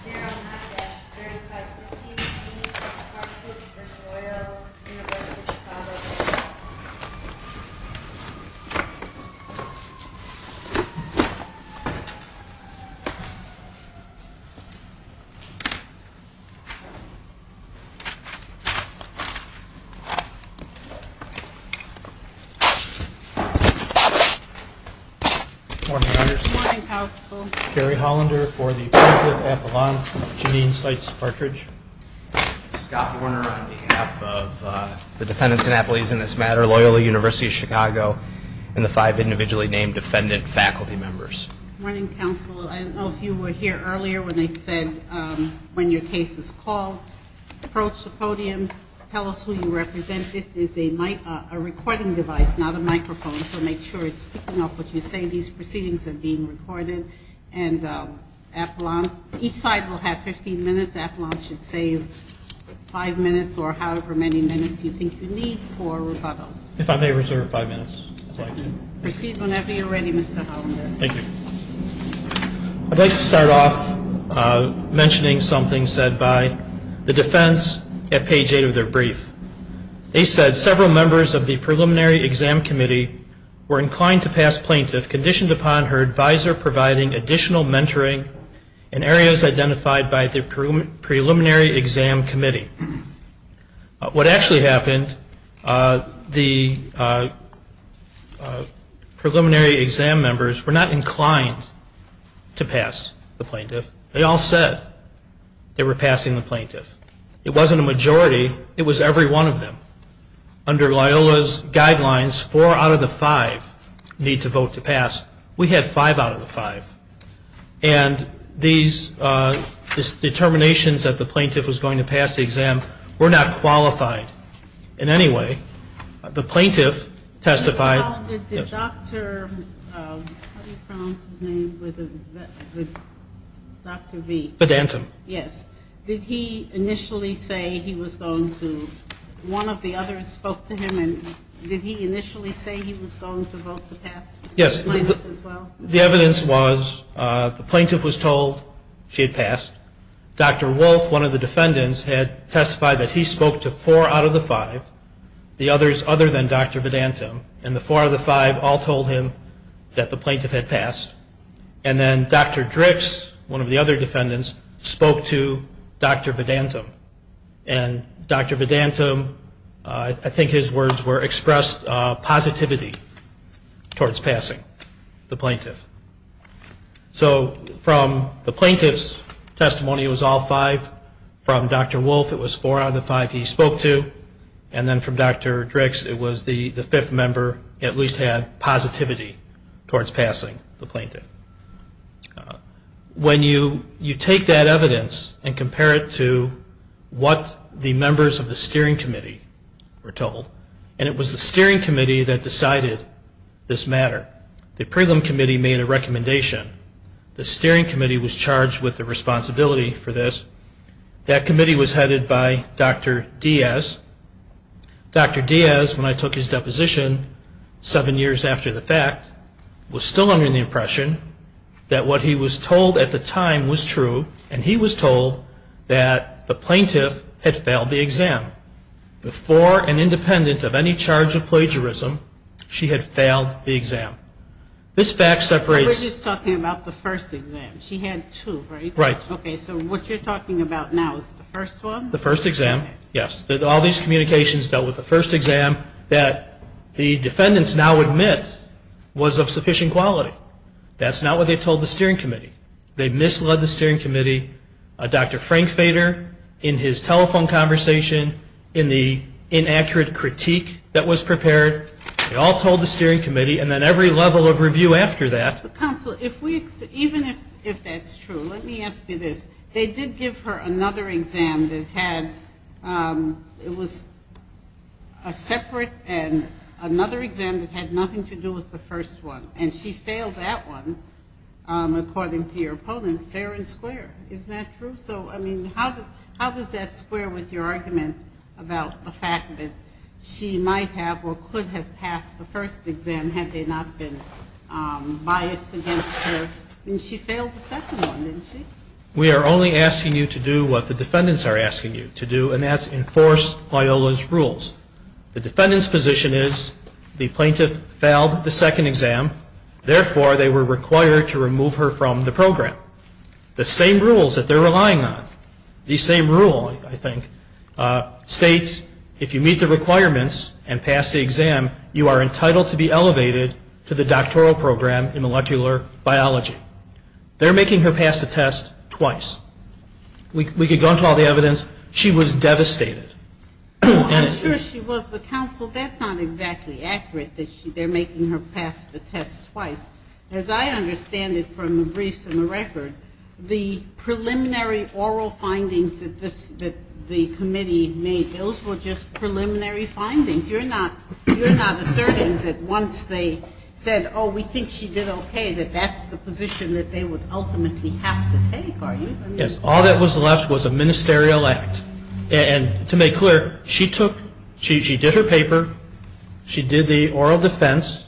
Gerald Huckett, 3515 East, Hartford v. Loyola, University of Chicago Morning, Anderson. Morning, Counsel. Kerry Hollander for the appellant. Janine Seitz-Patridge. Scott Warner on behalf of the defendants and appelees in this matter, Loyola University of Chicago, and the five individually named defendant faculty members. Morning, Counsel. I don't know if you were here earlier when they said when your case is called, approach the podium, tell us who you represent. This is a recording device, not a microphone, so make sure it's picking up what you say. These proceedings are being recorded, and each side will have 15 minutes. Appellants should save five minutes or however many minutes you think you need for rebuttal. If I may reserve five minutes. Proceed whenever you're ready, Mr. Hollander. Thank you. I'd like to start off mentioning something said by the defense at page 8 of their brief. They said several members of the preliminary exam committee were inclined to pass plaintiff conditioned upon her advisor providing additional mentoring in areas identified by the preliminary exam committee. What actually happened, the preliminary exam members were not inclined to pass the plaintiff. They all said they were passing the plaintiff. It wasn't a majority, it was every one of them. Under Loyola's guidelines, four out of the five need to vote to pass. We had five out of the five. And these determinations that the plaintiff was going to pass the exam were not qualified in any way. The plaintiff testified. How did the doctor, how do you pronounce his name, with Dr. V? Bedantam. Yes. Did he initially say he was going to, one of the others spoke to him, and did he initially say he was going to vote to pass the plaintiff as well? Yes. The evidence was the plaintiff was told she had passed. Dr. Wolf, one of the defendants, had testified that he spoke to four out of the five, the others other than Dr. Bedantam, and the four of the five all told him that the plaintiff had passed. And then Dr. Drix, one of the other defendants, spoke to Dr. Bedantam. And Dr. Bedantam, I think his words were expressed positivity towards passing the plaintiff. So from the plaintiff's testimony, it was all five. From Dr. Wolf, it was four out of the five he spoke to. And then from Dr. Drix, it was the fifth member at least had positivity towards passing the plaintiff. When you take that evidence and compare it to what the members of the Steering Committee were told, and it was the Steering Committee that decided this matter. The Steering Committee was charged with the responsibility for this. That committee was headed by Dr. Diaz. Dr. Diaz, when I took his deposition seven years after the fact, was still under the impression that what he was told at the time was true, and he was told that the plaintiff had failed the exam. Before and independent of any charge of plagiarism, she had failed the exam. This fact separates... We're just talking about the first exam. She had two, right? Right. Okay, so what you're talking about now is the first one? The first exam, yes. All these communications dealt with the first exam that the defendants now admit was of sufficient quality. That's not what they told the Steering Committee. They misled the Steering Committee. Dr. Frank Fader, in his telephone conversation, in the inaccurate critique that was prepared, they all told the Steering Committee, and then every level of review after that. Counsel, even if that's true, let me ask you this. They did give her another exam that had, it was a separate and another exam that had nothing to do with the first one, and she failed that one, according to your opponent, fair and square. Isn't that true? So, I mean, how does that square with your argument about the fact that she might have or could have passed the first exam had they not been biased against her? I mean, she failed the second one, didn't she? We are only asking you to do what the defendants are asking you to do, and that's enforce Loyola's rules. The defendant's position is the plaintiff failed the second exam, therefore they were required to remove her from the program. Therefore, the same rules that they're relying on, the same rule, I think, states if you meet the requirements and pass the exam, you are entitled to be elevated to the doctoral program in molecular biology. They're making her pass the test twice. We could go into all the evidence. She was devastated. I'm sure she was, but, counsel, that's not exactly accurate that they're making her pass the test twice. As I understand it from the briefs and the record, the preliminary oral findings that the committee made, those were just preliminary findings. You're not asserting that once they said, oh, we think she did okay, that that's the position that they would ultimately have to take, are you? Yes. All that was left was a ministerial act. And to make clear, she took, she did her paper, she did the oral defense,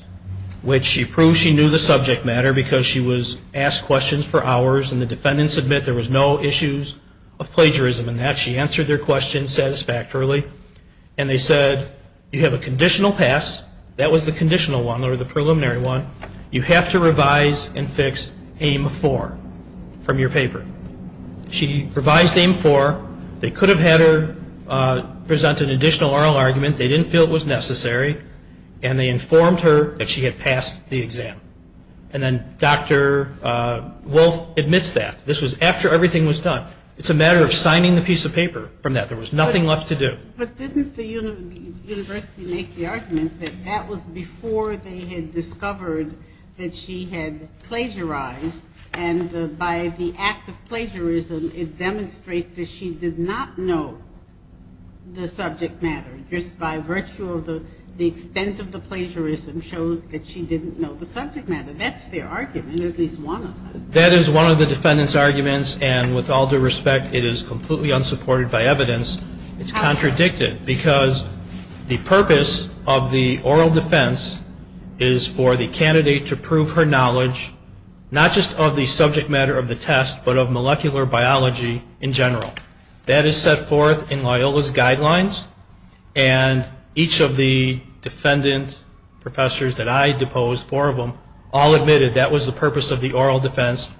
which she proved she knew the subject matter because she was asked questions for hours and the defendants admit there was no issues of plagiarism in that. She answered their questions satisfactorily. And they said, you have a conditional pass. That was the conditional one or the preliminary one. You have to revise and fix AIM-4 from your paper. She revised AIM-4. They could have had her present an additional oral argument. They didn't feel it was necessary. And they informed her that she had passed the exam. And then Dr. Wolf admits that. This was after everything was done. It's a matter of signing the piece of paper from that. There was nothing left to do. But didn't the university make the argument that that was before they had discovered that she had plagiarized and by the act of plagiarism it demonstrates that she did not know the subject matter. Just by virtue of the extent of the plagiarism shows that she didn't know the subject matter. That's their argument, at least one of them. That is one of the defendants' arguments. And with all due respect, it is completely unsupported by evidence. It's contradicted because the purpose of the oral defense is for the candidate to prove her knowledge, not just of the subject matter of the test, but of molecular biology in general. That is set forth in Loyola's guidelines. And each of the defendant professors that I deposed, four of them, all admitted that was the purpose of the oral defense.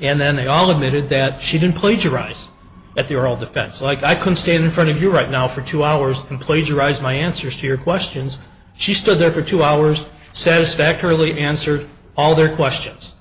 And then they all admitted that she didn't plagiarize at the oral defense. Like I couldn't stand in front of you right now for two hours and plagiarize my answers to your questions. She stood there for two hours, satisfactorily answered all their questions.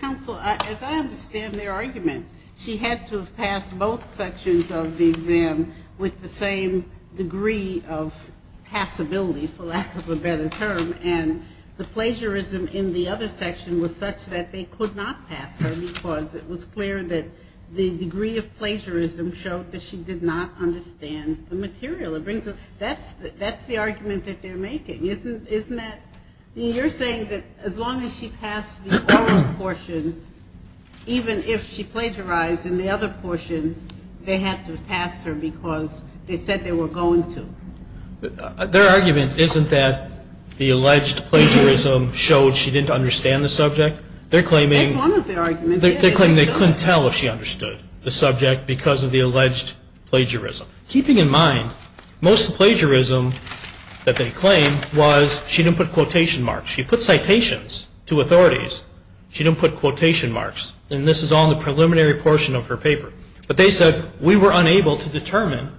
Counsel, as I understand their argument, she had to have passed both sections of the exam with the same degree of passability, for lack of a better term. And the plagiarism in the other section was such that they could not pass her because it was clear that the degree of plagiarism showed that she did not understand the material. That's the argument that they're making, isn't that? You're saying that as long as she passed the oral portion, even if she plagiarized in the other portion, they had to pass her because they said they were going to. Their argument isn't that the alleged plagiarism showed she didn't understand the subject. That's one of their arguments. They're claiming they couldn't tell if she understood the subject because of the alleged plagiarism. Keeping in mind most of the plagiarism that they claim was she didn't put quotation marks. She put citations to authorities. She didn't put quotation marks. And this is all in the preliminary portion of her paper. But they said we were unable to determine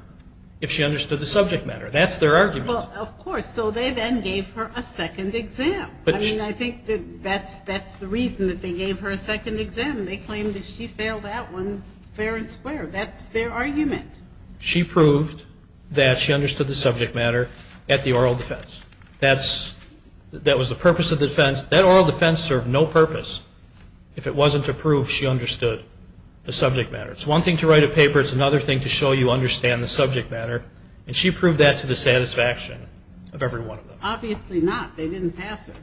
if she understood the subject matter. That's their argument. Well, of course. So they then gave her a second exam. I mean, I think that that's the reason that they gave her a second exam. They claimed that she failed that one fair and square. That's their argument. She proved that she understood the subject matter at the oral defense. That was the purpose of the defense. That oral defense served no purpose if it wasn't to prove she understood the subject matter. It's one thing to write a paper. It's another thing to show you understand the subject matter. And she proved that to the satisfaction of every one of them. Obviously not. They didn't pass her.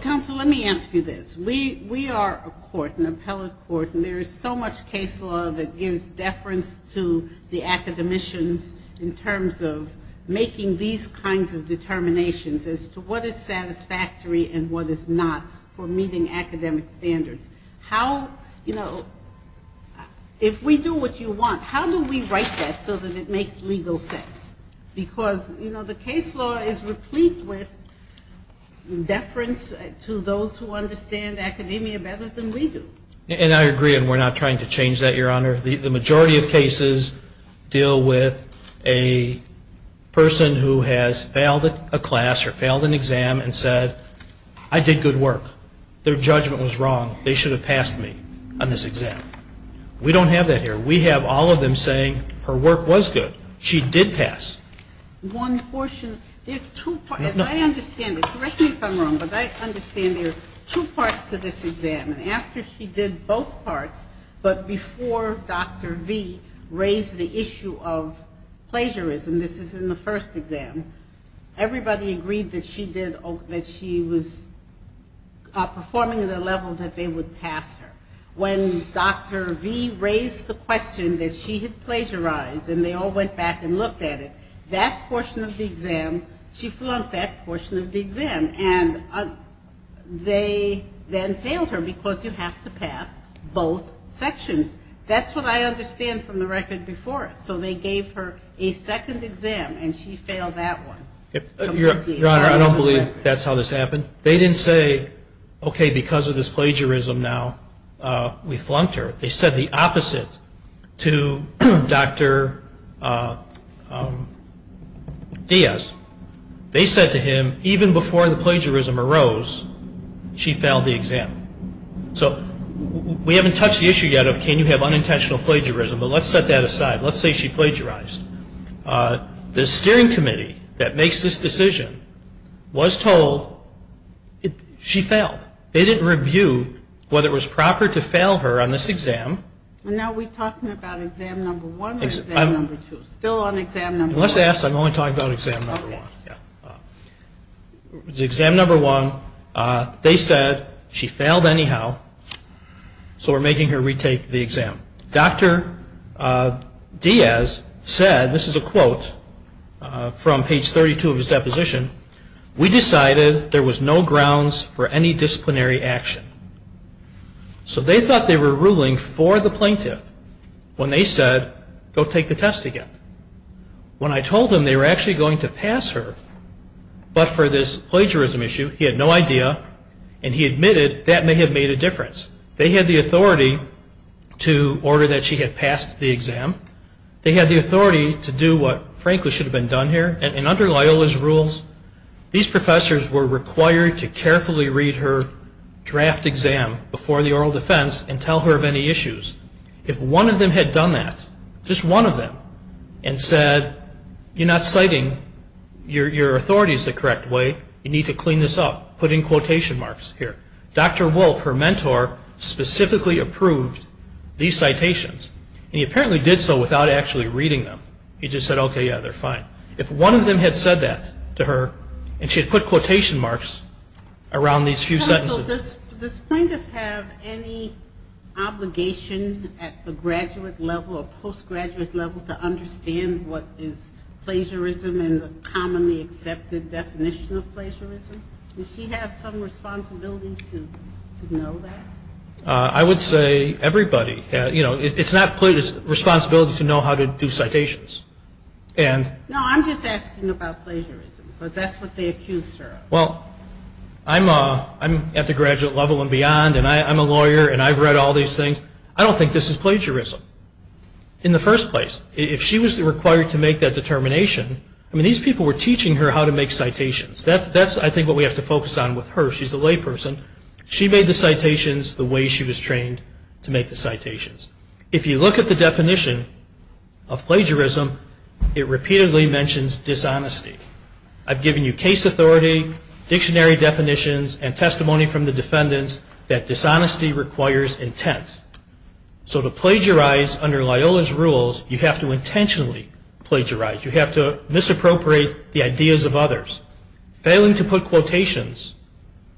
Counsel, let me ask you this. We are a court, an appellate court, and there is so much case law that gives deference to the academicians in terms of making these kinds of determinations as to what is satisfactory and what is not for meeting academic standards. How, you know, if we do what you want, how do we write that so that it makes legal sense? Because, you know, the case law is replete with deference to those who understand academia better than we do. And I agree, and we're not trying to change that, Your Honor. The majority of cases deal with a person who has failed a class or failed an exam and said, I did good work. Their judgment was wrong. They should have passed me on this exam. We don't have that here. We have all of them saying her work was good. She did pass. One portion, there's two parts. As I understand it, correct me if I'm wrong, but I understand there are two parts to this exam. And after she did both parts, but before Dr. V raised the issue of plagiarism, this is in the first exam, everybody agreed that she did, that she was performing at a level that they would pass her. When Dr. V raised the question that she had plagiarized and they all went back and looked at it, that portion of the exam, she flunked that portion of the exam. And they then failed her because you have to pass both sections. That's what I understand from the record before us. So they gave her a second exam and she failed that one. Your Honor, I don't believe that's how this happened. They didn't say, okay, because of this plagiarism now we flunked her. They said the opposite to Dr. Diaz. They said to him, even before the plagiarism arose, she failed the exam. So we haven't touched the issue yet of can you have unintentional plagiarism, but let's set that aside. Let's say she plagiarized. The steering committee that makes this decision was told she failed. They didn't review whether it was proper to fail her on this exam. And are we talking about exam number one or exam number two? Still on exam number one. Unless asked, I'm only talking about exam number one. Exam number one, they said she failed anyhow, so we're making her retake the exam. Dr. Diaz said, this is a quote from page 32 of his deposition, we decided there was no grounds for any disciplinary action. So they thought they were ruling for the plaintiff when they said, go take the test again. When I told them they were actually going to pass her, but for this plagiarism issue, he had no idea, and he admitted that may have made a difference. They had the authority to order that she had passed the exam. They had the authority to do what frankly should have been done here. And under Loyola's rules, these professors were required to carefully read her draft exam before the oral defense and tell her of any issues. If one of them had done that, just one of them, and said, you're not citing your authorities the correct way, you need to clean this up, put in quotation marks here. Dr. Wolf, her mentor, specifically approved these citations. And he apparently did so without actually reading them. He just said, okay, yeah, they're fine. If one of them had said that to her, and she had put quotation marks around these few sentences. So does plaintiff have any obligation at the graduate level or postgraduate level to understand what is plagiarism and the commonly accepted definition of plagiarism? Does she have some responsibility to know that? I would say everybody. You know, it's not responsibility to know how to do citations. No, I'm just asking about plagiarism, because that's what they accused her of. Well, I'm at the graduate level and beyond, and I'm a lawyer, and I've read all these things. I don't think this is plagiarism in the first place. If she was required to make that determination, I mean, these people were teaching her how to make citations. That's, I think, what we have to focus on with her. She's a layperson. She made the citations the way she was trained to make the citations. If you look at the definition of plagiarism, it repeatedly mentions dishonesty. I've given you case authority, dictionary definitions, and testimony from the defendants that dishonesty requires intent. So to plagiarize under Loyola's rules, you have to intentionally plagiarize. You have to misappropriate the ideas of others. Failing to put quotations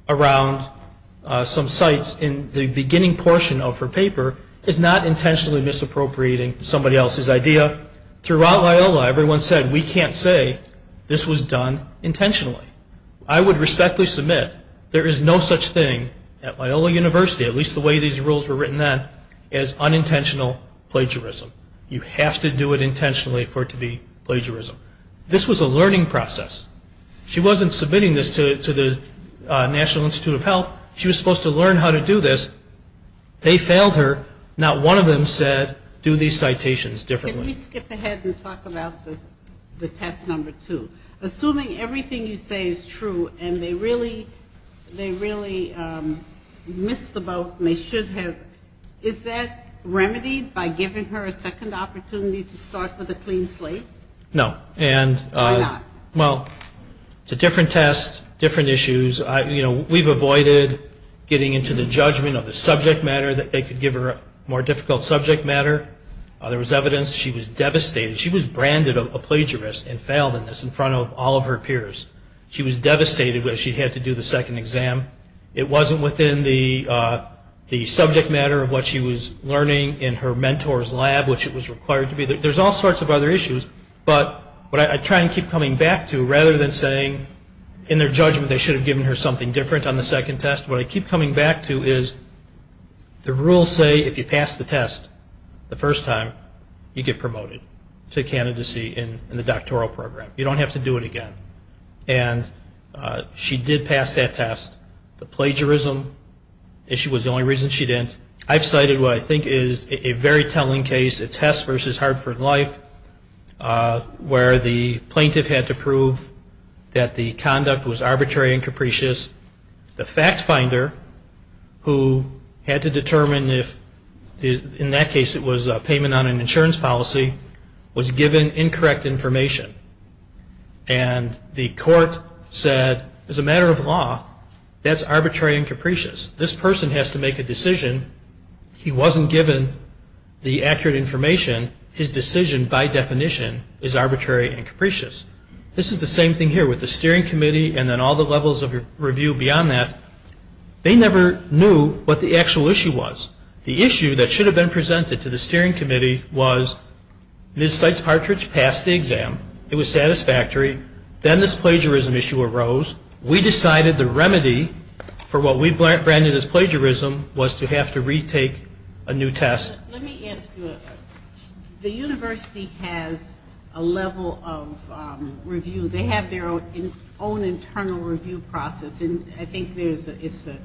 around some sites in the beginning portion of her paper is not intentionally misappropriating somebody else's idea. Throughout Loyola, everyone said, we can't say this was done intentionally. I would respectfully submit there is no such thing at Loyola University, at least the way these rules were written then, as unintentional plagiarism. You have to do it intentionally for it to be plagiarism. This was a learning process. She wasn't submitting this to the National Institute of Health. She was supposed to learn how to do this. They failed her. Not one of them said, do these citations differently. Can we skip ahead and talk about the test number two? Assuming everything you say is true and they really missed the boat and they should have, is that remedied by giving her a second opportunity to start with a clean slate? No. Why not? Well, it's a different test, different issues. You know, we've avoided getting into the judgment of the subject matter that they could give her a more difficult subject matter. There was evidence she was devastated. She was branded a plagiarist and failed in this in front of all of her peers. She was devastated that she had to do the second exam. It wasn't within the subject matter of what she was learning in her mentor's lab, which it was required to be. There's all sorts of other issues. But what I try and keep coming back to, rather than saying in their judgment they should have given her something different on the second test, what I keep coming back to is the rules say if you pass the test the first time, you get promoted to candidacy in the doctoral program. You don't have to do it again. And she did pass that test. The plagiarism issue was the only reason she didn't. I've cited what I think is a very telling case, it's Hess versus Hartford Life, where the plaintiff had to prove that the conduct was arbitrary and capricious. The fact finder, who had to determine if in that case it was payment on an insurance policy, was given incorrect information. And the court said, as a matter of law, that's arbitrary and capricious. This person has to make a decision. He wasn't given the accurate information. His decision, by definition, is arbitrary and capricious. This is the same thing here with the steering committee and then all the levels of review beyond that. They never knew what the actual issue was. The issue that should have been presented to the steering committee was, Ms. Seitz-Partridge passed the exam. It was satisfactory. Then this plagiarism issue arose. We decided the remedy for what we branded as plagiarism was to have to retake a new test. Let me ask you, the university has a level of review. They have their own internal review process, and I think it's a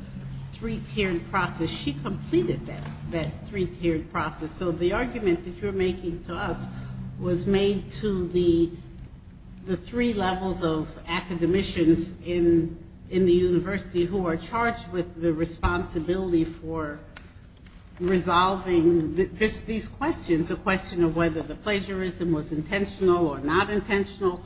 three-tiered process. She completed that three-tiered process. So the argument that you're making to us was made to the three levels of academicians in the university who are charged with the responsibility for resolving these questions, a question of whether the plagiarism was intentional or not intentional,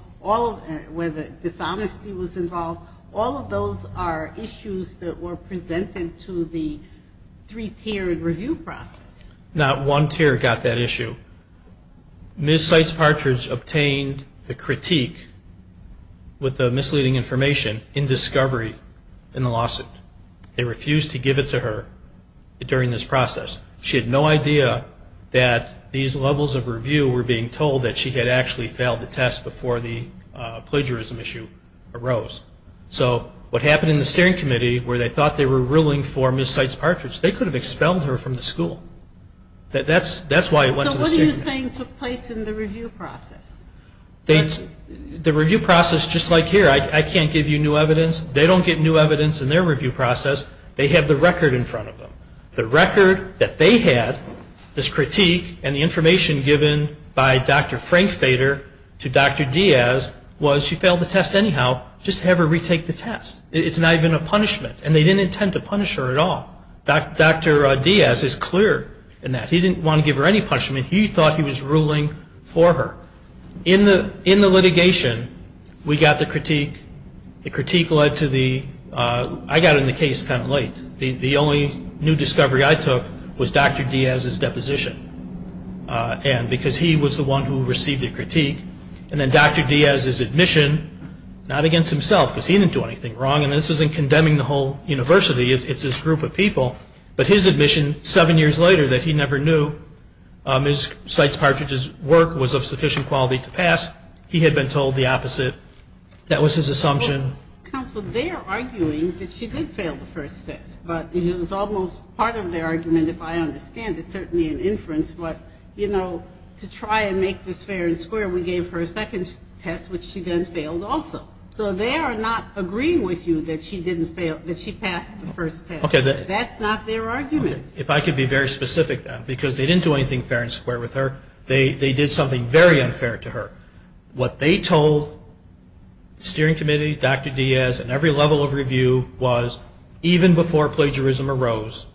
whether dishonesty was involved. All of those are issues that were presented to the three-tiered review process. Not one tier got that issue. Ms. Seitz-Partridge obtained the critique with the misleading information in discovery in the lawsuit. They refused to give it to her during this process. She had no idea that these levels of review were being told that she had actually failed the test before the plagiarism issue arose. So what happened in the steering committee, where they thought they were ruling for Ms. Seitz-Partridge, they could have expelled her from the school. That's why it went to the steering committee. So what are you saying took place in the review process? The review process, just like here, I can't give you new evidence. They don't get new evidence in their review process. They have the record in front of them. The record that they had, this critique, and the information given by Dr. Frank Fader to Dr. Diaz was she failed the test anyhow. Just have her retake the test. It's not even a punishment, and they didn't intend to punish her at all. Dr. Diaz is clear in that. He didn't want to give her any punishment. He thought he was ruling for her. In the litigation, we got the critique. The critique led to the ‑‑ I got in the case kind of late. The only new discovery I took was Dr. Diaz's deposition, because he was the one who received the critique. And then Dr. Diaz's admission, not against himself, because he didn't do anything wrong, and this isn't condemning the whole university. It's this group of people. But his admission seven years later that he never knew Ms. Seitz Partridge's work was of sufficient quality to pass, he had been told the opposite. That was his assumption. Counsel, they are arguing that she did fail the first test, but it was almost part of their argument, if I understand it, certainly an inference. But, you know, to try and make this fair and square, we gave her a second test, which she then failed also. So they are not agreeing with you that she passed the first test. That's not their argument. If I could be very specific, then, because they didn't do anything fair and square with her. They did something very unfair to her. What they told the steering committee, Dr. Diaz, and every level of review was, even before plagiarism arose,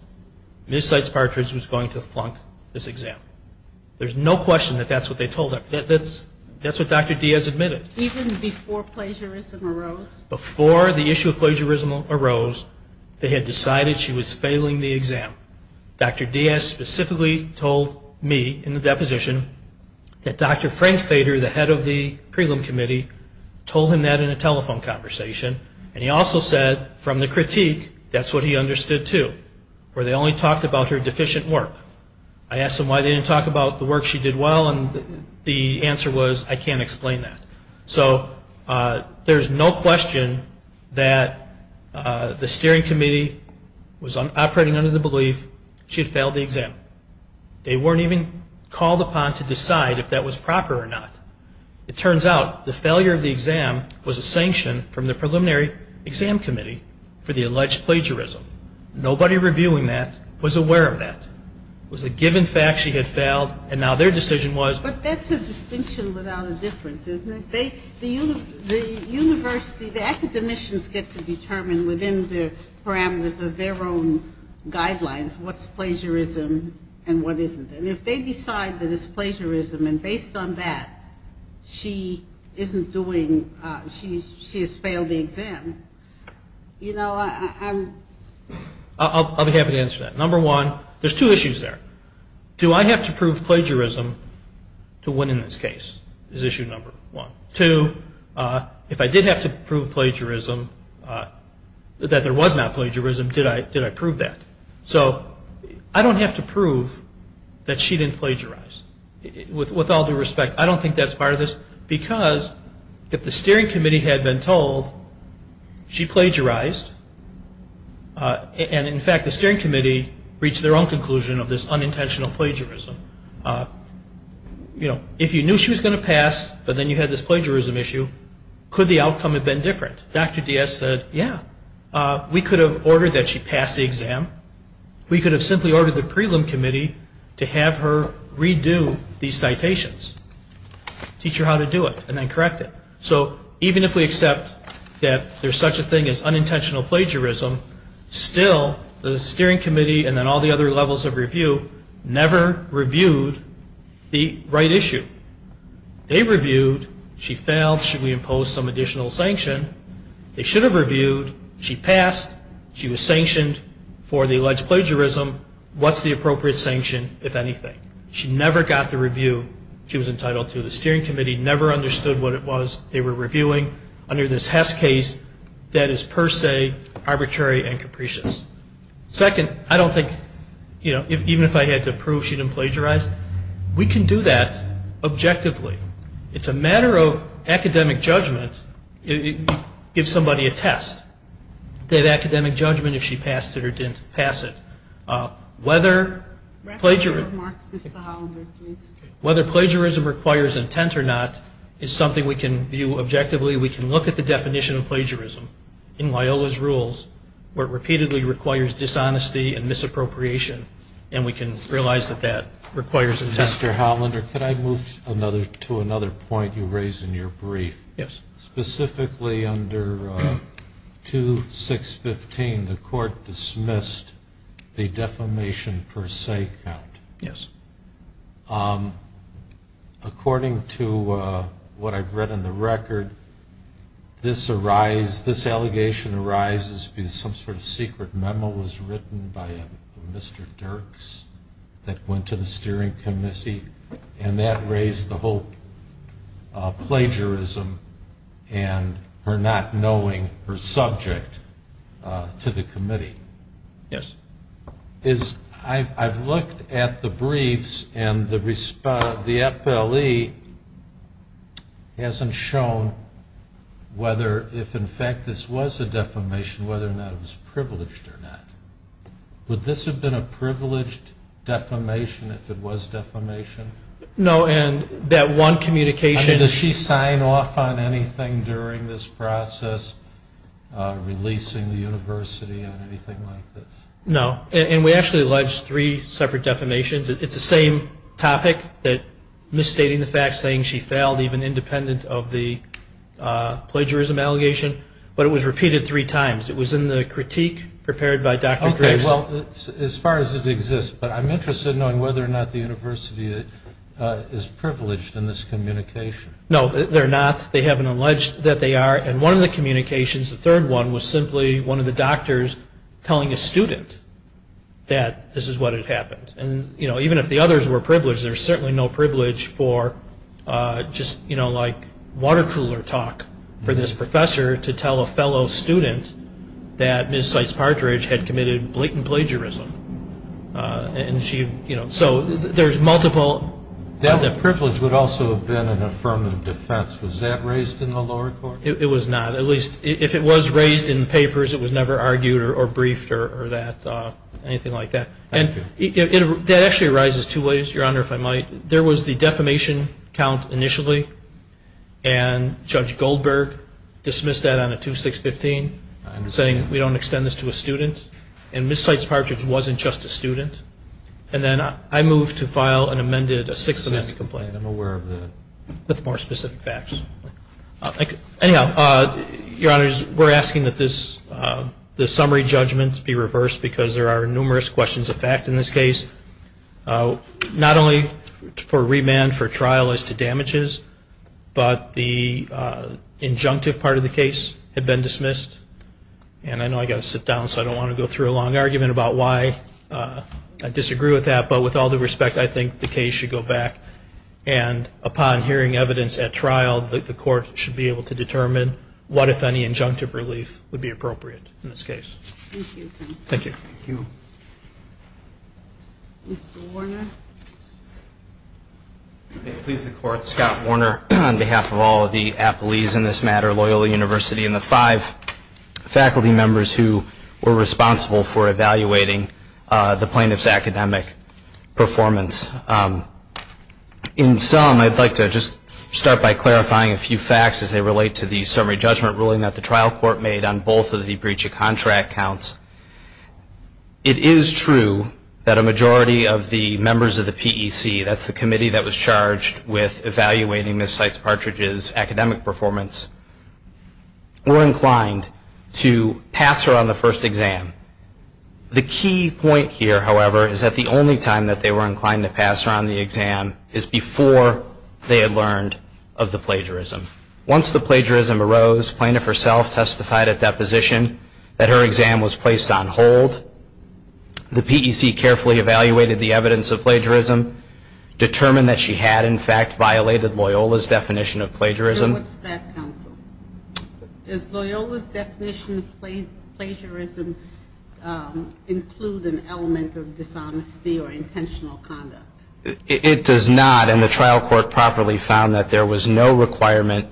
Ms. Seitz Partridge was going to flunk this exam. There's no question that that's what they told him. That's what Dr. Diaz admitted. Even before plagiarism arose? Before the issue of plagiarism arose, they had decided she was failing the exam. Dr. Diaz specifically told me, in the deposition, that Dr. Frank Fader, the head of the prelim committee, told him that in a telephone conversation. And he also said, from the critique, that's what he understood too, where they only talked about her deficient work. I asked them why they didn't talk about the work she did well, and the answer was, I can't explain that. So there's no question that the steering committee was operating under the belief she had failed the exam. They weren't even called upon to decide if that was proper or not. It turns out the failure of the exam was a sanction from the preliminary exam committee for the alleged plagiarism. Nobody reviewing that was aware of that. It was a given fact she had failed, and now their decision was. But that's a distinction without a difference, isn't it? The university, the academicians get to determine within the parameters of their own guidelines what's plagiarism and what isn't. And if they decide that it's plagiarism, and based on that she isn't doing, she has failed the exam, you know, I'm... I'll be happy to answer that. Number one, there's two issues there. Do I have to prove plagiarism to win in this case is issue number one. Two, if I did have to prove plagiarism, that there was not plagiarism, did I prove that? So I don't have to prove that she didn't plagiarize. With all due respect, I don't think that's part of this, because if the steering committee had been told she plagiarized, and in fact the steering committee reached their own conclusion of this unintentional plagiarism, you know, if you knew she was going to pass, but then you had this plagiarism issue, could the outcome have been different? Dr. Diaz said, yeah, we could have ordered that she pass the exam. We could have simply ordered the prelim committee to have her redo these citations, teach her how to do it, and then correct it. So even if we accept that there's such a thing as unintentional plagiarism, still the steering committee and then all the other levels of review never reviewed the right issue. They reviewed, she failed, should we impose some additional sanction? They should have reviewed, she passed, she was sanctioned for the alleged plagiarism, what's the appropriate sanction, if anything? She never got the review she was entitled to. The steering committee never understood what it was they were reviewing under this Hess case that is per se arbitrary and capricious. Second, I don't think, you know, even if I had to prove she didn't plagiarize, we can do that objectively. It's a matter of academic judgment. Give somebody a test, did they have academic judgment if she passed it or didn't pass it. Whether plagiarism requires intent or not is something we can view objectively. We can look at the definition of plagiarism in Loyola's rules where it repeatedly requires dishonesty and misappropriation, and we can realize that that requires intent. Mr. Hollander, could I move to another point you raised in your brief? Yes. Specifically under 2615, the court dismissed the defamation per se count. Yes. According to what I've read in the record, this allegation arises because some sort of secret memo was written by a Mr. Dirks that went to the steering committee, and that raised the whole plagiarism and her not knowing her subject to the committee. Yes. I've looked at the briefs, and the FLE hasn't shown whether if, in fact, this was a defamation, whether or not it was privileged or not. Would this have been a privileged defamation if it was defamation? No. And that one communication... I mean, does she sign off on anything during this process, releasing the university on anything like this? No. And we actually alleged three separate defamations. It's the same topic, that misstating the fact, saying she failed, even independent of the plagiarism allegation. But it was repeated three times. It was in the critique prepared by Dr. Dirks. Okay, well, as far as it exists, but I'm interested in knowing whether or not the university is privileged in this communication. No, they're not. They haven't alleged that they are. And one of the communications, the third one, was simply one of the doctors telling a student that this is what had happened. And, you know, even if the others were privileged, there's certainly no privilege for just, you know, like water cooler talk for this professor to tell a fellow student that Ms. Seitz-Partridge had committed blatant plagiarism. And she, you know, so there's multiple... That privilege would also have been an affirmative defense. Was that raised in the lower court? It was not. At least if it was raised in papers, it was never argued or briefed or that, anything like that. Thank you. And that actually arises two ways, Your Honor, if I might. There was the defamation count initially, and Judge Goldberg dismissed that on a 2-6-15, saying we don't extend this to a student. And Ms. Seitz-Partridge wasn't just a student. And then I moved to file and amended a six-amendment complaint. I'm aware of the... With more specific facts. Anyhow, Your Honors, we're asking that this summary judgment be reversed because there are numerous questions of fact in this case. Not only for remand for trial as to damages, but the injunctive part of the case had been dismissed. And I know I've got to sit down, so I don't want to go through a long argument about why I disagree with that. But with all due respect, I think the case should go back. And upon hearing evidence at trial, the court should be able to determine what, if any, injunctive relief would be appropriate in this case. Thank you. Thank you. Thank you. Mr. Warner. May it please the Court. Scott Warner on behalf of all of the appellees in this matter, Loyola University, and the five faculty members who were responsible for evaluating the plaintiff's academic performance. In sum, I'd like to just start by clarifying a few facts as they relate to the summary judgment ruling that the trial court made on both of the breach of contract counts. It is true that a majority of the members of the PEC, that's the committee that was charged with evaluating Ms. Seitz-Partridge's academic performance, were inclined to pass her on the first exam. The key point here, however, is that the only time that they were inclined to pass her on the exam is before they had learned of the plagiarism. Once the plagiarism arose, plaintiff herself testified at deposition that her exam was placed on hold. The PEC carefully evaluated the evidence of plagiarism, determined that she had, in fact, violated Loyola's definition of plagiarism. And what's that, counsel? Does Loyola's definition of plagiarism include an element of dishonesty or intentional conduct? It does not, and the trial court properly found that there was no requirement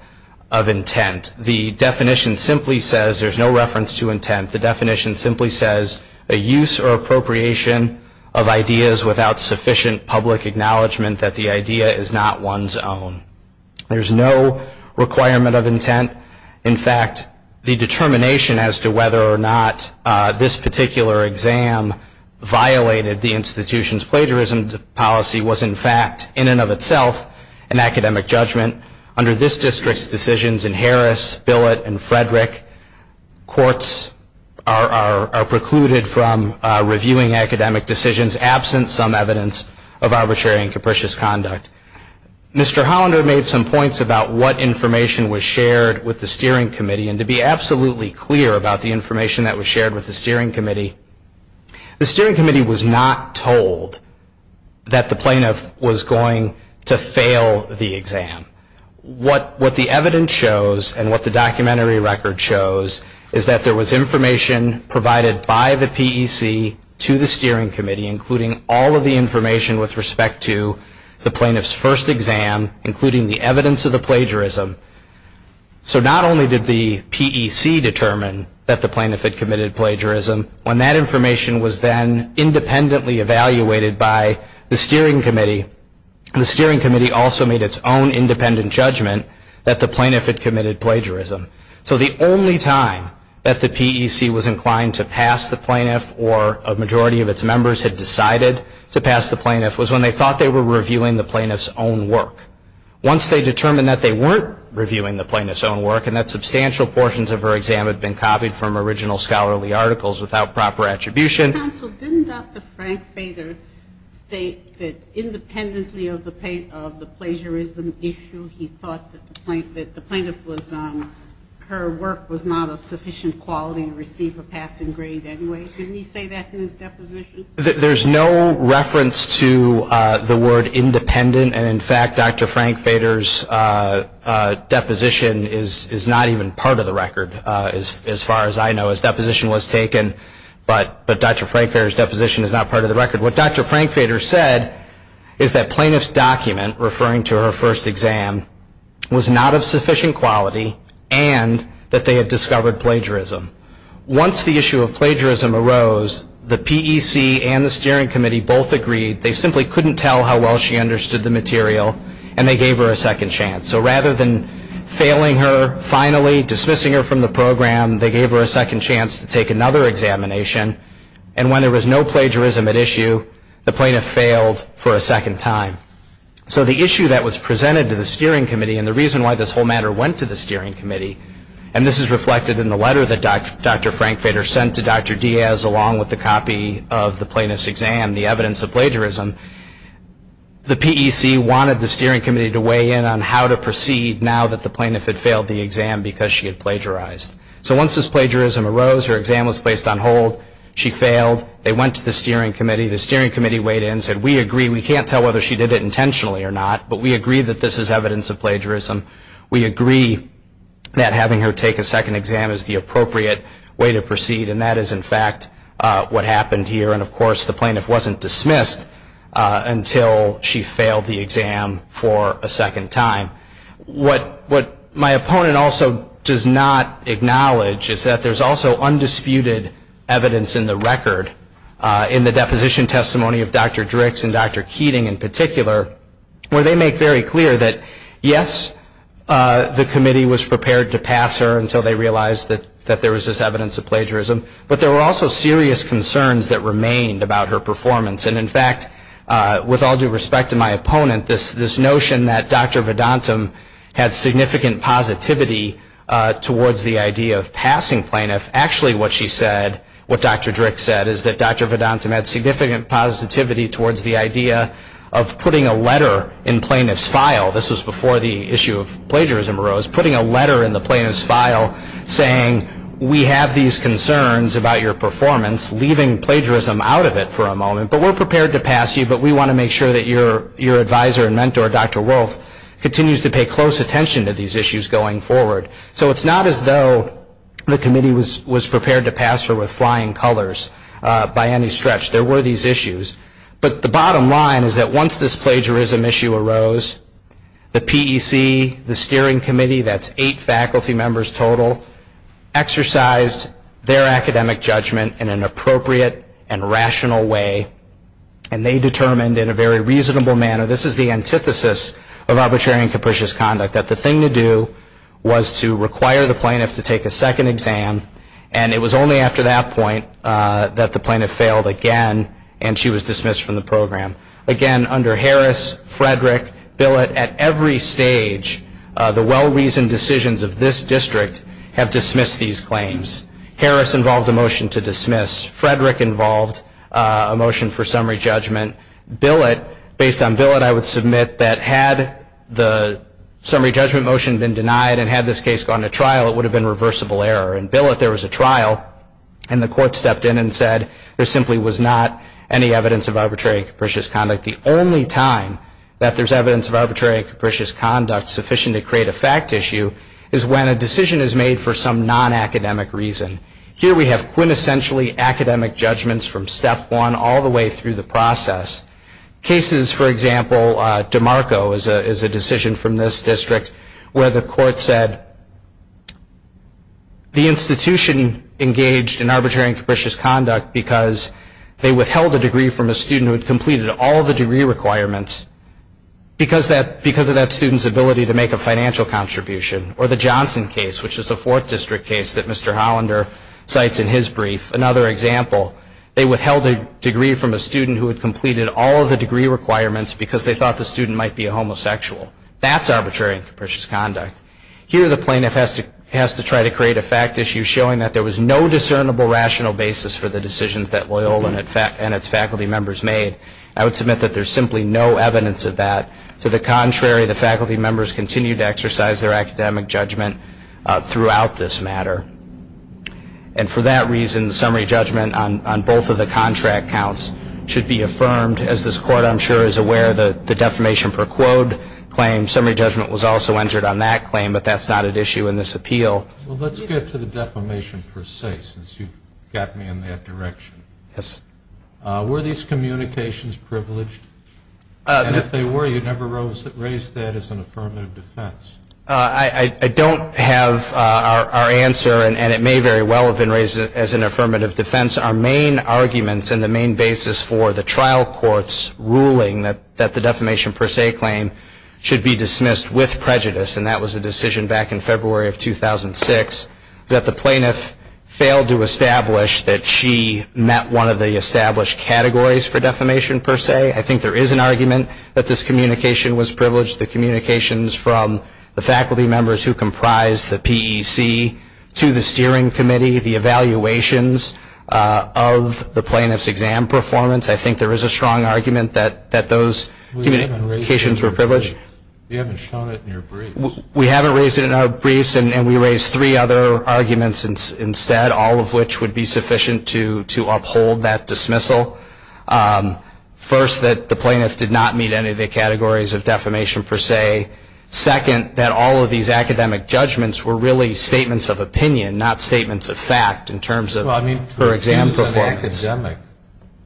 of intent. The definition simply says there's no reference to intent. The definition simply says a use or appropriation of ideas without sufficient public acknowledgement that the idea is not one's own. There's no requirement of intent. In fact, the determination as to whether or not this particular exam violated the institution's plagiarism policy was, in fact, in and of itself an academic judgment. Under this district's decisions in Harris, Billett, and Frederick, courts are precluded from reviewing academic decisions absent some evidence of arbitrary and capricious conduct. Mr. Hollander made some points about what information was shared with the Steering Committee, and to be absolutely clear about the information that was shared with the Steering Committee, the Steering Committee was not told that the plaintiff was going to fail the exam. What the evidence shows, and what the documentary record shows, is that there was information provided by the PEC to the Steering Committee, including all of the information with respect to the plaintiff's first exam, including the evidence of the plagiarism. So not only did the PEC determine that the plaintiff had committed plagiarism, when that information was then independently evaluated by the Steering Committee, the Steering Committee also made its own independent judgment that the plaintiff had committed plagiarism. So the only time that the PEC was inclined to pass the plaintiff, or a majority of its members had decided to pass the plaintiff, was when they thought they were reviewing the plaintiff's own work. Once they determined that they weren't reviewing the plaintiff's own work, and that substantial portions of her exam had been copied from original scholarly articles without proper attribution. Counsel, didn't Dr. Frank Fader state that independently of the plagiarism issue, he thought that the plaintiff was, her work was not of sufficient quality to receive a passing grade anyway? Didn't he say that in his deposition? There's no reference to the word independent, and in fact Dr. Frank Fader's deposition is not even part of the record as far as I know. His deposition was taken, but Dr. Frank Fader's deposition is not part of the record. What Dr. Frank Fader said is that plaintiff's document referring to her first exam was not of sufficient quality, and that they had discovered plagiarism. Once the issue of plagiarism arose, the PEC and the Steering Committee both agreed they simply couldn't tell how well she understood the material, and they gave her a second chance. So rather than failing her finally, dismissing her from the program, they gave her a second chance to take another examination, and when there was no plagiarism at issue, the plaintiff failed for a second time. So the issue that was presented to the Steering Committee, and the reason why this whole matter went to the Steering Committee, and this is reflected in the letter that Dr. Frank Fader sent to Dr. Diaz, along with the copy of the plaintiff's exam, the evidence of plagiarism, the PEC wanted the Steering Committee to weigh in on how to proceed now that the plaintiff had failed the exam because she had plagiarized. So once this plagiarism arose, her exam was placed on hold, she failed, they went to the Steering Committee, the Steering Committee weighed in and said, we agree, we can't tell whether she did it intentionally or not, but we agree that this is evidence of plagiarism. We agree that having her take a second exam is the appropriate way to proceed, and that is, in fact, what happened here. And, of course, the plaintiff wasn't dismissed until she failed the exam for a second time. What my opponent also does not acknowledge is that there's also undisputed evidence in the record, in the deposition testimony of Dr. Drix and Dr. Keating in particular, where they make very clear that, yes, the committee was prepared to pass her until they realized that there was this evidence of plagiarism, but there were also serious concerns that remained about her performance. And, in fact, with all due respect to my opponent, this notion that Dr. Vedantam had significant positivity towards the idea of passing plaintiff, actually what she said, what Dr. Drix said, is that Dr. Vedantam had significant positivity towards the idea of putting a letter in plaintiff's file. This was before the issue of plagiarism arose. Putting a letter in the plaintiff's file saying, we have these concerns about your performance, leaving plagiarism out of it for a moment, but we're prepared to pass you, but we want to make sure that your advisor and mentor, Dr. Wolf, continues to pay close attention to these issues going forward. So it's not as though the committee was prepared to pass her with flying colors by any stretch. There were these issues, but the bottom line is that once this plagiarism issue arose, the PEC, the steering committee, that's eight faculty members total, exercised their academic judgment in an appropriate and rational way, and they determined in a very reasonable manner, this is the antithesis of arbitrary and capricious conduct, that the thing to do was to require the plaintiff to take a second exam, and it was only after that point that the plaintiff failed again, and she was dismissed from the program. Again, under Harris, Frederick, Billett, at every stage, the well-reasoned decisions of this district have dismissed these claims. Harris involved a motion to dismiss. Frederick involved a motion for summary judgment. Billett, based on Billett, I would submit that had the summary judgment motion been denied and had this case gone to trial, it would have been reversible error. In Billett, there was a trial, and the court stepped in and said, there simply was not any evidence of arbitrary and capricious conduct. The only time that there's evidence of arbitrary and capricious conduct sufficient to create a fact issue is when a decision is made for some non-academic reason. Here we have quintessentially academic judgments from step one all the way through the process. Cases, for example, DeMarco is a decision from this district, where the court said the institution engaged in arbitrary and capricious conduct because they withheld a degree from a student who had completed all of the degree requirements because of that student's ability to make a financial contribution. Or the Johnson case, which is a Fourth District case that Mr. Hollander cites in his brief. Another example, they withheld a degree from a student who had completed all of the degree requirements because they thought the student might be a homosexual. That's arbitrary and capricious conduct. Here the plaintiff has to try to create a fact issue showing that there was no discernible rational basis for the decisions that Loyola and its faculty members made. I would submit that there's simply no evidence of that. To the contrary, the faculty members continued to exercise their academic judgment throughout this matter. And for that reason, the summary judgment on both of the contract counts should be affirmed. As this court, I'm sure, is aware, the defamation per quote claim, summary judgment was also entered on that claim, but that's not at issue in this appeal. Well, let's get to the defamation per se, since you've got me in that direction. Yes. Were these communications privileged? And if they were, you never raised that as an affirmative defense. I don't have our answer, and it may very well have been raised as an affirmative defense. Our main arguments and the main basis for the trial court's ruling that the defamation per se claim should be dismissed with prejudice, and that was a decision back in February of 2006, that the plaintiff failed to establish that she met one of the established categories for defamation per se. I think there is an argument that this communication was privileged. The communications from the faculty members who comprised the PEC to the steering committee, the evaluations of the plaintiff's exam performance, I think there is a strong argument that those communications were privileged. You haven't shown it in your briefs. We haven't raised it in our briefs, and we raised three other arguments instead, all of which would be sufficient to uphold that dismissal. First, that the plaintiff did not meet any of the categories of defamation per se. Second, that all of these academic judgments were really statements of opinion, not statements of fact in terms of her exam performance. Well, I mean, to accuse an academic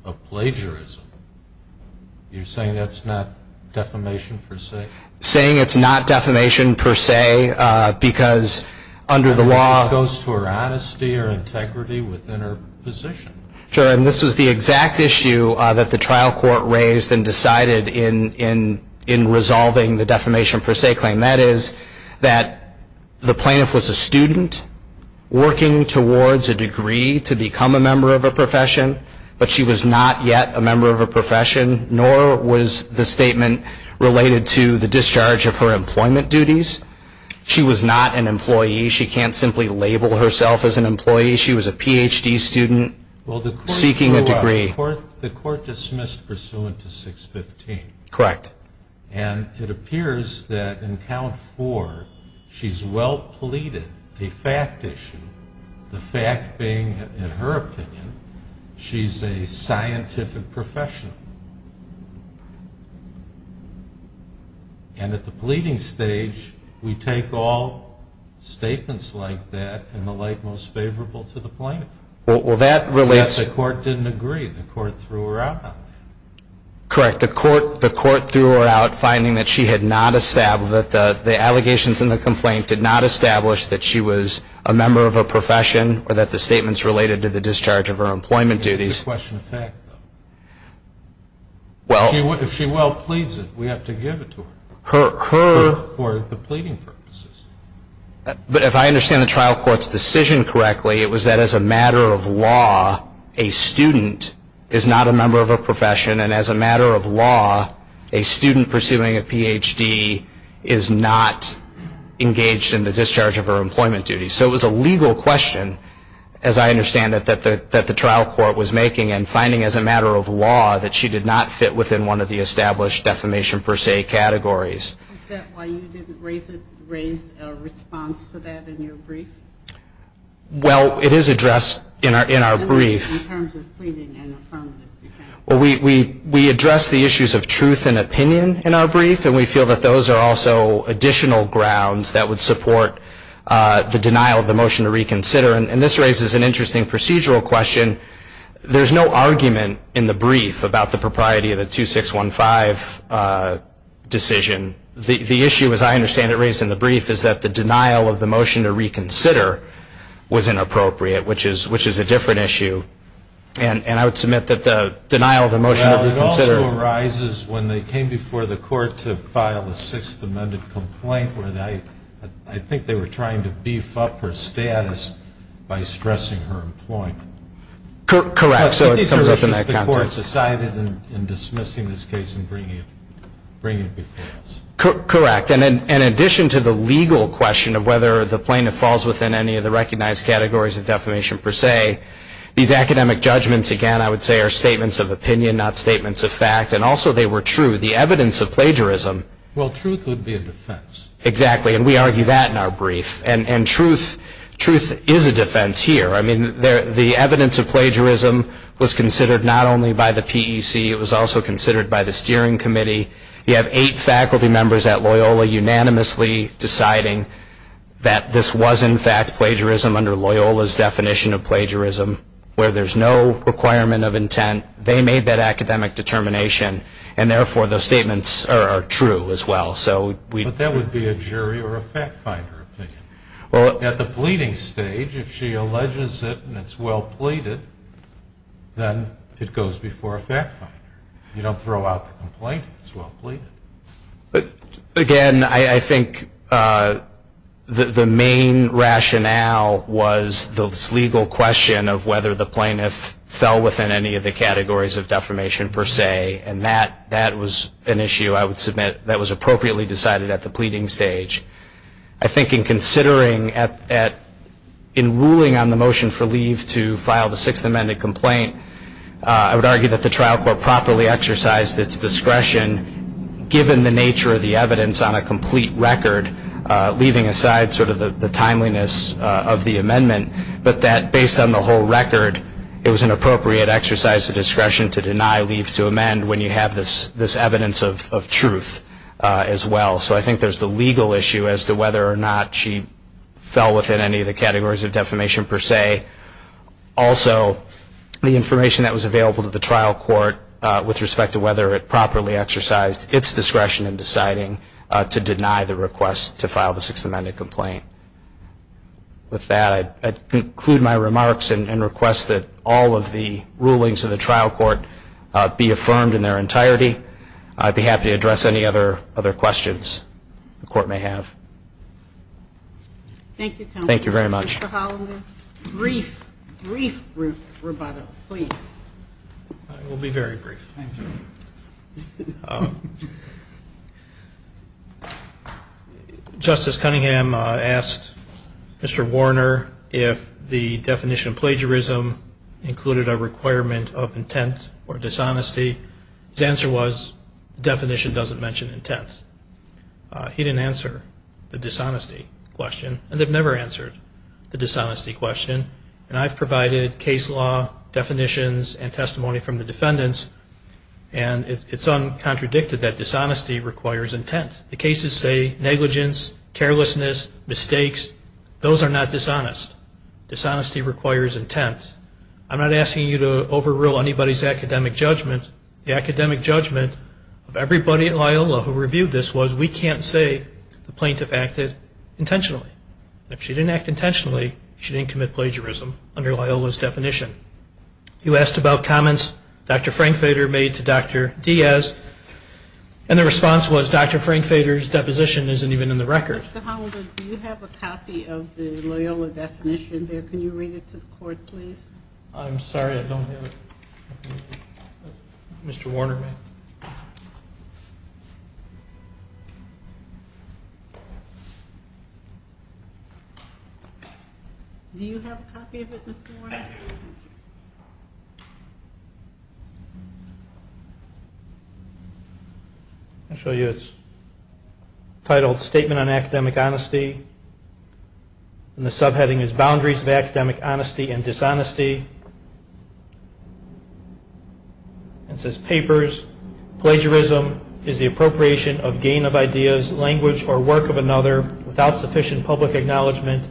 of plagiarism, you're saying that's not defamation per se? Saying it's not defamation per se because under the law... I mean, it goes to her honesty or integrity within her position. Sure, and this was the exact issue that the trial court raised and decided in resolving the defamation per se claim. That is, that the plaintiff was a student working towards a degree to become a member of a profession, but she was not yet a member of a profession, nor was the statement related to the discharge of her employment duties. She was not an employee. She can't simply label herself as an employee. She was a Ph.D. student seeking a degree. Well, the court dismissed pursuant to 615. Correct. And it appears that in count four, she's well pleaded a fact issue, the fact being, in her opinion, she's a scientific professional. And at the pleading stage, we take all statements like that in the light most favorable to the plaintiff. Well, that relates... Yes, the court didn't agree. The court threw her out on that. Correct. The court threw her out, finding that she had not established, that the allegations in the complaint did not establish that she was a member of a profession or that the statements related to the discharge of her employment duties. If she well pleads it, we have to give it to her for the pleading purposes. But if I understand the trial court's decision correctly, it was that as a matter of law, a student is not a member of a profession, and as a matter of law, a student pursuing a Ph.D. is not engaged in the discharge of her employment duties. So it was a legal question, as I understand it, that the trial court was making and finding as a matter of law that she did not fit within one of the established defamation per se categories. Is that why you didn't raise a response to that in your brief? Well, it is addressed in our brief. In terms of pleading and affirmative defense. Well, we address the issues of truth and opinion in our brief, and we feel that those are also additional grounds that would support the denial of the motion to reconsider. And this raises an interesting procedural question. There's no argument in the brief about the propriety of the 2615 decision. The issue, as I understand it, raised in the brief, is that the denial of the motion to reconsider was inappropriate, which is a different issue. And I would submit that the denial of the motion to reconsider. Well, it also arises when they came before the court to file a Sixth Amendment complaint where I think they were trying to beef up her status by stressing her employment. Correct. But these are issues the court decided in dismissing this case and bringing it before us. Correct. And in addition to the legal question of whether the plaintiff falls within any of the recognized categories of defamation per se, these academic judgments, again, I would say, are statements of opinion, not statements of fact. And also they were true. The evidence of plagiarism. Well, truth would be a defense. Exactly. And we argue that in our brief. And truth is a defense here. I mean, the evidence of plagiarism was considered not only by the PEC. It was also considered by the Steering Committee. You have eight faculty members at Loyola unanimously deciding that this was, in fact, plagiarism under Loyola's definition of plagiarism where there's no requirement of intent. They made that academic determination. And, therefore, those statements are true as well. But that would be a jury or a fact finder opinion. At the pleading stage, if she alleges it and it's well pleaded, then it goes before a fact finder. You don't throw out the complaint if it's well pleaded. Again, I think the main rationale was this legal question of whether the plaintiff fell within any of the categories of defamation per se. And that was an issue, I would submit, that was appropriately decided at the pleading stage. I think in considering, in ruling on the motion for leave to file the sixth amended complaint, I would argue that the trial court properly exercised its discretion, given the nature of the evidence on a complete record, leaving aside sort of the timeliness of the amendment, but that, based on the whole record, it was an appropriate exercise of discretion to deny leave to amend when you have this evidence of truth as well. So I think there's the legal issue as to whether or not she fell within any of the categories of defamation per se. Also, the information that was available to the trial court with respect to whether it properly exercised its discretion in deciding to deny the request to file the sixth amended complaint. With that, I conclude my remarks and request that all of the rulings of the trial court be affirmed in their entirety. I'd be happy to address any other questions the court may have. Thank you, counsel. Thank you very much. Mr. Hollander, brief, brief rebuttal, please. I will be very brief. Thank you. Justice Cunningham asked Mr. Warner if the definition of plagiarism included a requirement of intent or dishonesty. His answer was the definition doesn't mention intent. He didn't answer the dishonesty question, and they've never answered the dishonesty question. And I've provided case law definitions and testimony from the defendants. And it's uncontradicted that dishonesty requires intent. The cases say negligence, carelessness, mistakes. Those are not dishonest. Dishonesty requires intent. I'm not asking you to overrule anybody's academic judgment. The academic judgment of everybody at Loyola who reviewed this was we can't say the plaintiff acted intentionally. If she didn't act intentionally, she didn't commit plagiarism under Loyola's definition. He asked about comments Dr. Frankfeder made to Dr. Diaz, and the response was Dr. Frankfeder's deposition isn't even in the record. Mr. Hollander, do you have a copy of the Loyola definition there? Can you read it to the court, please? I'm sorry, I don't have it. Mr. Warner may. Do you have a copy of it, Mr. Warner? I'll show you. It's titled Statement on Academic Honesty. And the subheading is Boundaries of Academic Honesty and Dishonesty. And it says, Papers, plagiarism is the appropriation of gain of ideas, language or work of another without sufficient public acknowledgement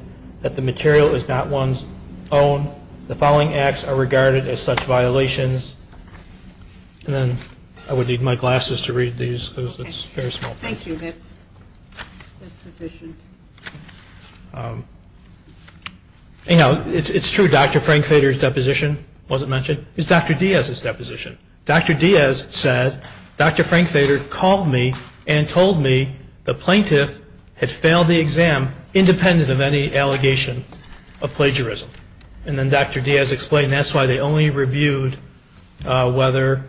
that the material is not one's own. The following acts are regarded as such violations. And then I would need my glasses to read these because it's very small. Thank you. That's sufficient. Anyhow, it's true, Dr. Frankfeder's deposition wasn't mentioned. It's Dr. Diaz's deposition. Dr. Diaz said, Dr. Frankfeder called me and told me the plaintiff had failed the exam independent of any allegation of plagiarism. And then Dr. Diaz explained that's why they only reviewed whether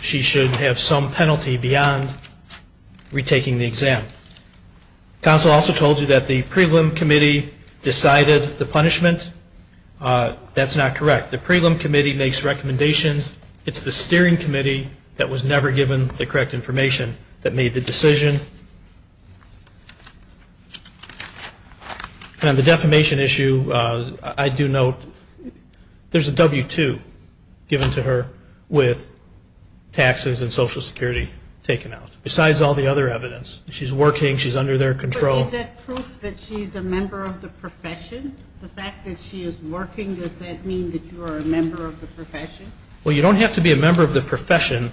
she should have some penalty beyond retaking the exam. Counsel also told you that the prelim committee decided the punishment. That's not correct. The prelim committee makes recommendations. It's the steering committee that was never given the correct information that made the decision. On the defamation issue, I do note there's a W-2 given to her with taxes and Social Security taken out. Besides all the other evidence, she's working, she's under their control. Is that proof that she's a member of the profession? The fact that she is working, does that mean that you are a member of the profession? Well, you don't have to be a member of the profession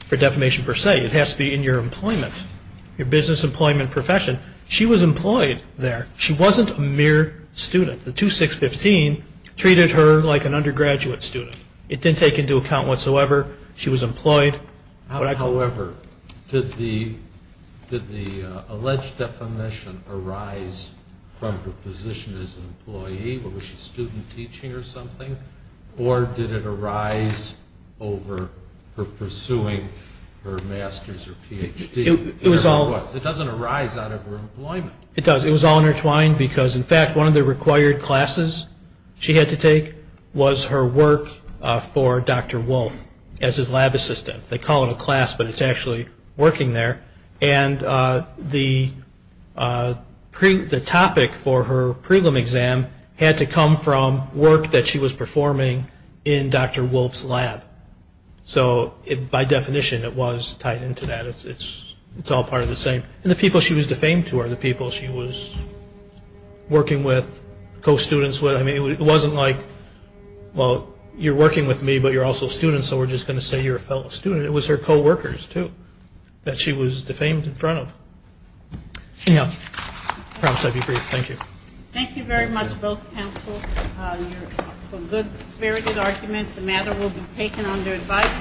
for defamation per se. It has to be in your employment, your business employment profession. She was employed there. She wasn't a mere student. The 2615 treated her like an undergraduate student. It didn't take into account whatsoever she was employed. However, did the alleged defamation arise from her position as an employee? Was she student teaching or something? Or did it arise over her pursuing her master's or Ph.D.? It doesn't arise out of her employment. It does. It was all intertwined because, in fact, one of the required classes she had to take was her work for Dr. Wolf as his lab assistant. They call it a class, but it's actually working there. And the topic for her prelim exam had to come from work that she was performing in Dr. Wolf's lab. So by definition, it was tied into that. It's all part of the same. And the people she was defamed to are the people she was working with, co-students with. I mean, it wasn't like, well, you're working with me, but you're also a student, so we're just going to say you're a fellow student. It was her co-workers, too, that she was defamed in front of. Yeah. I promise I'll be brief. Thank you. Thank you very much, both counsels. You have a good-spirited argument. The matter will be taken under advisement.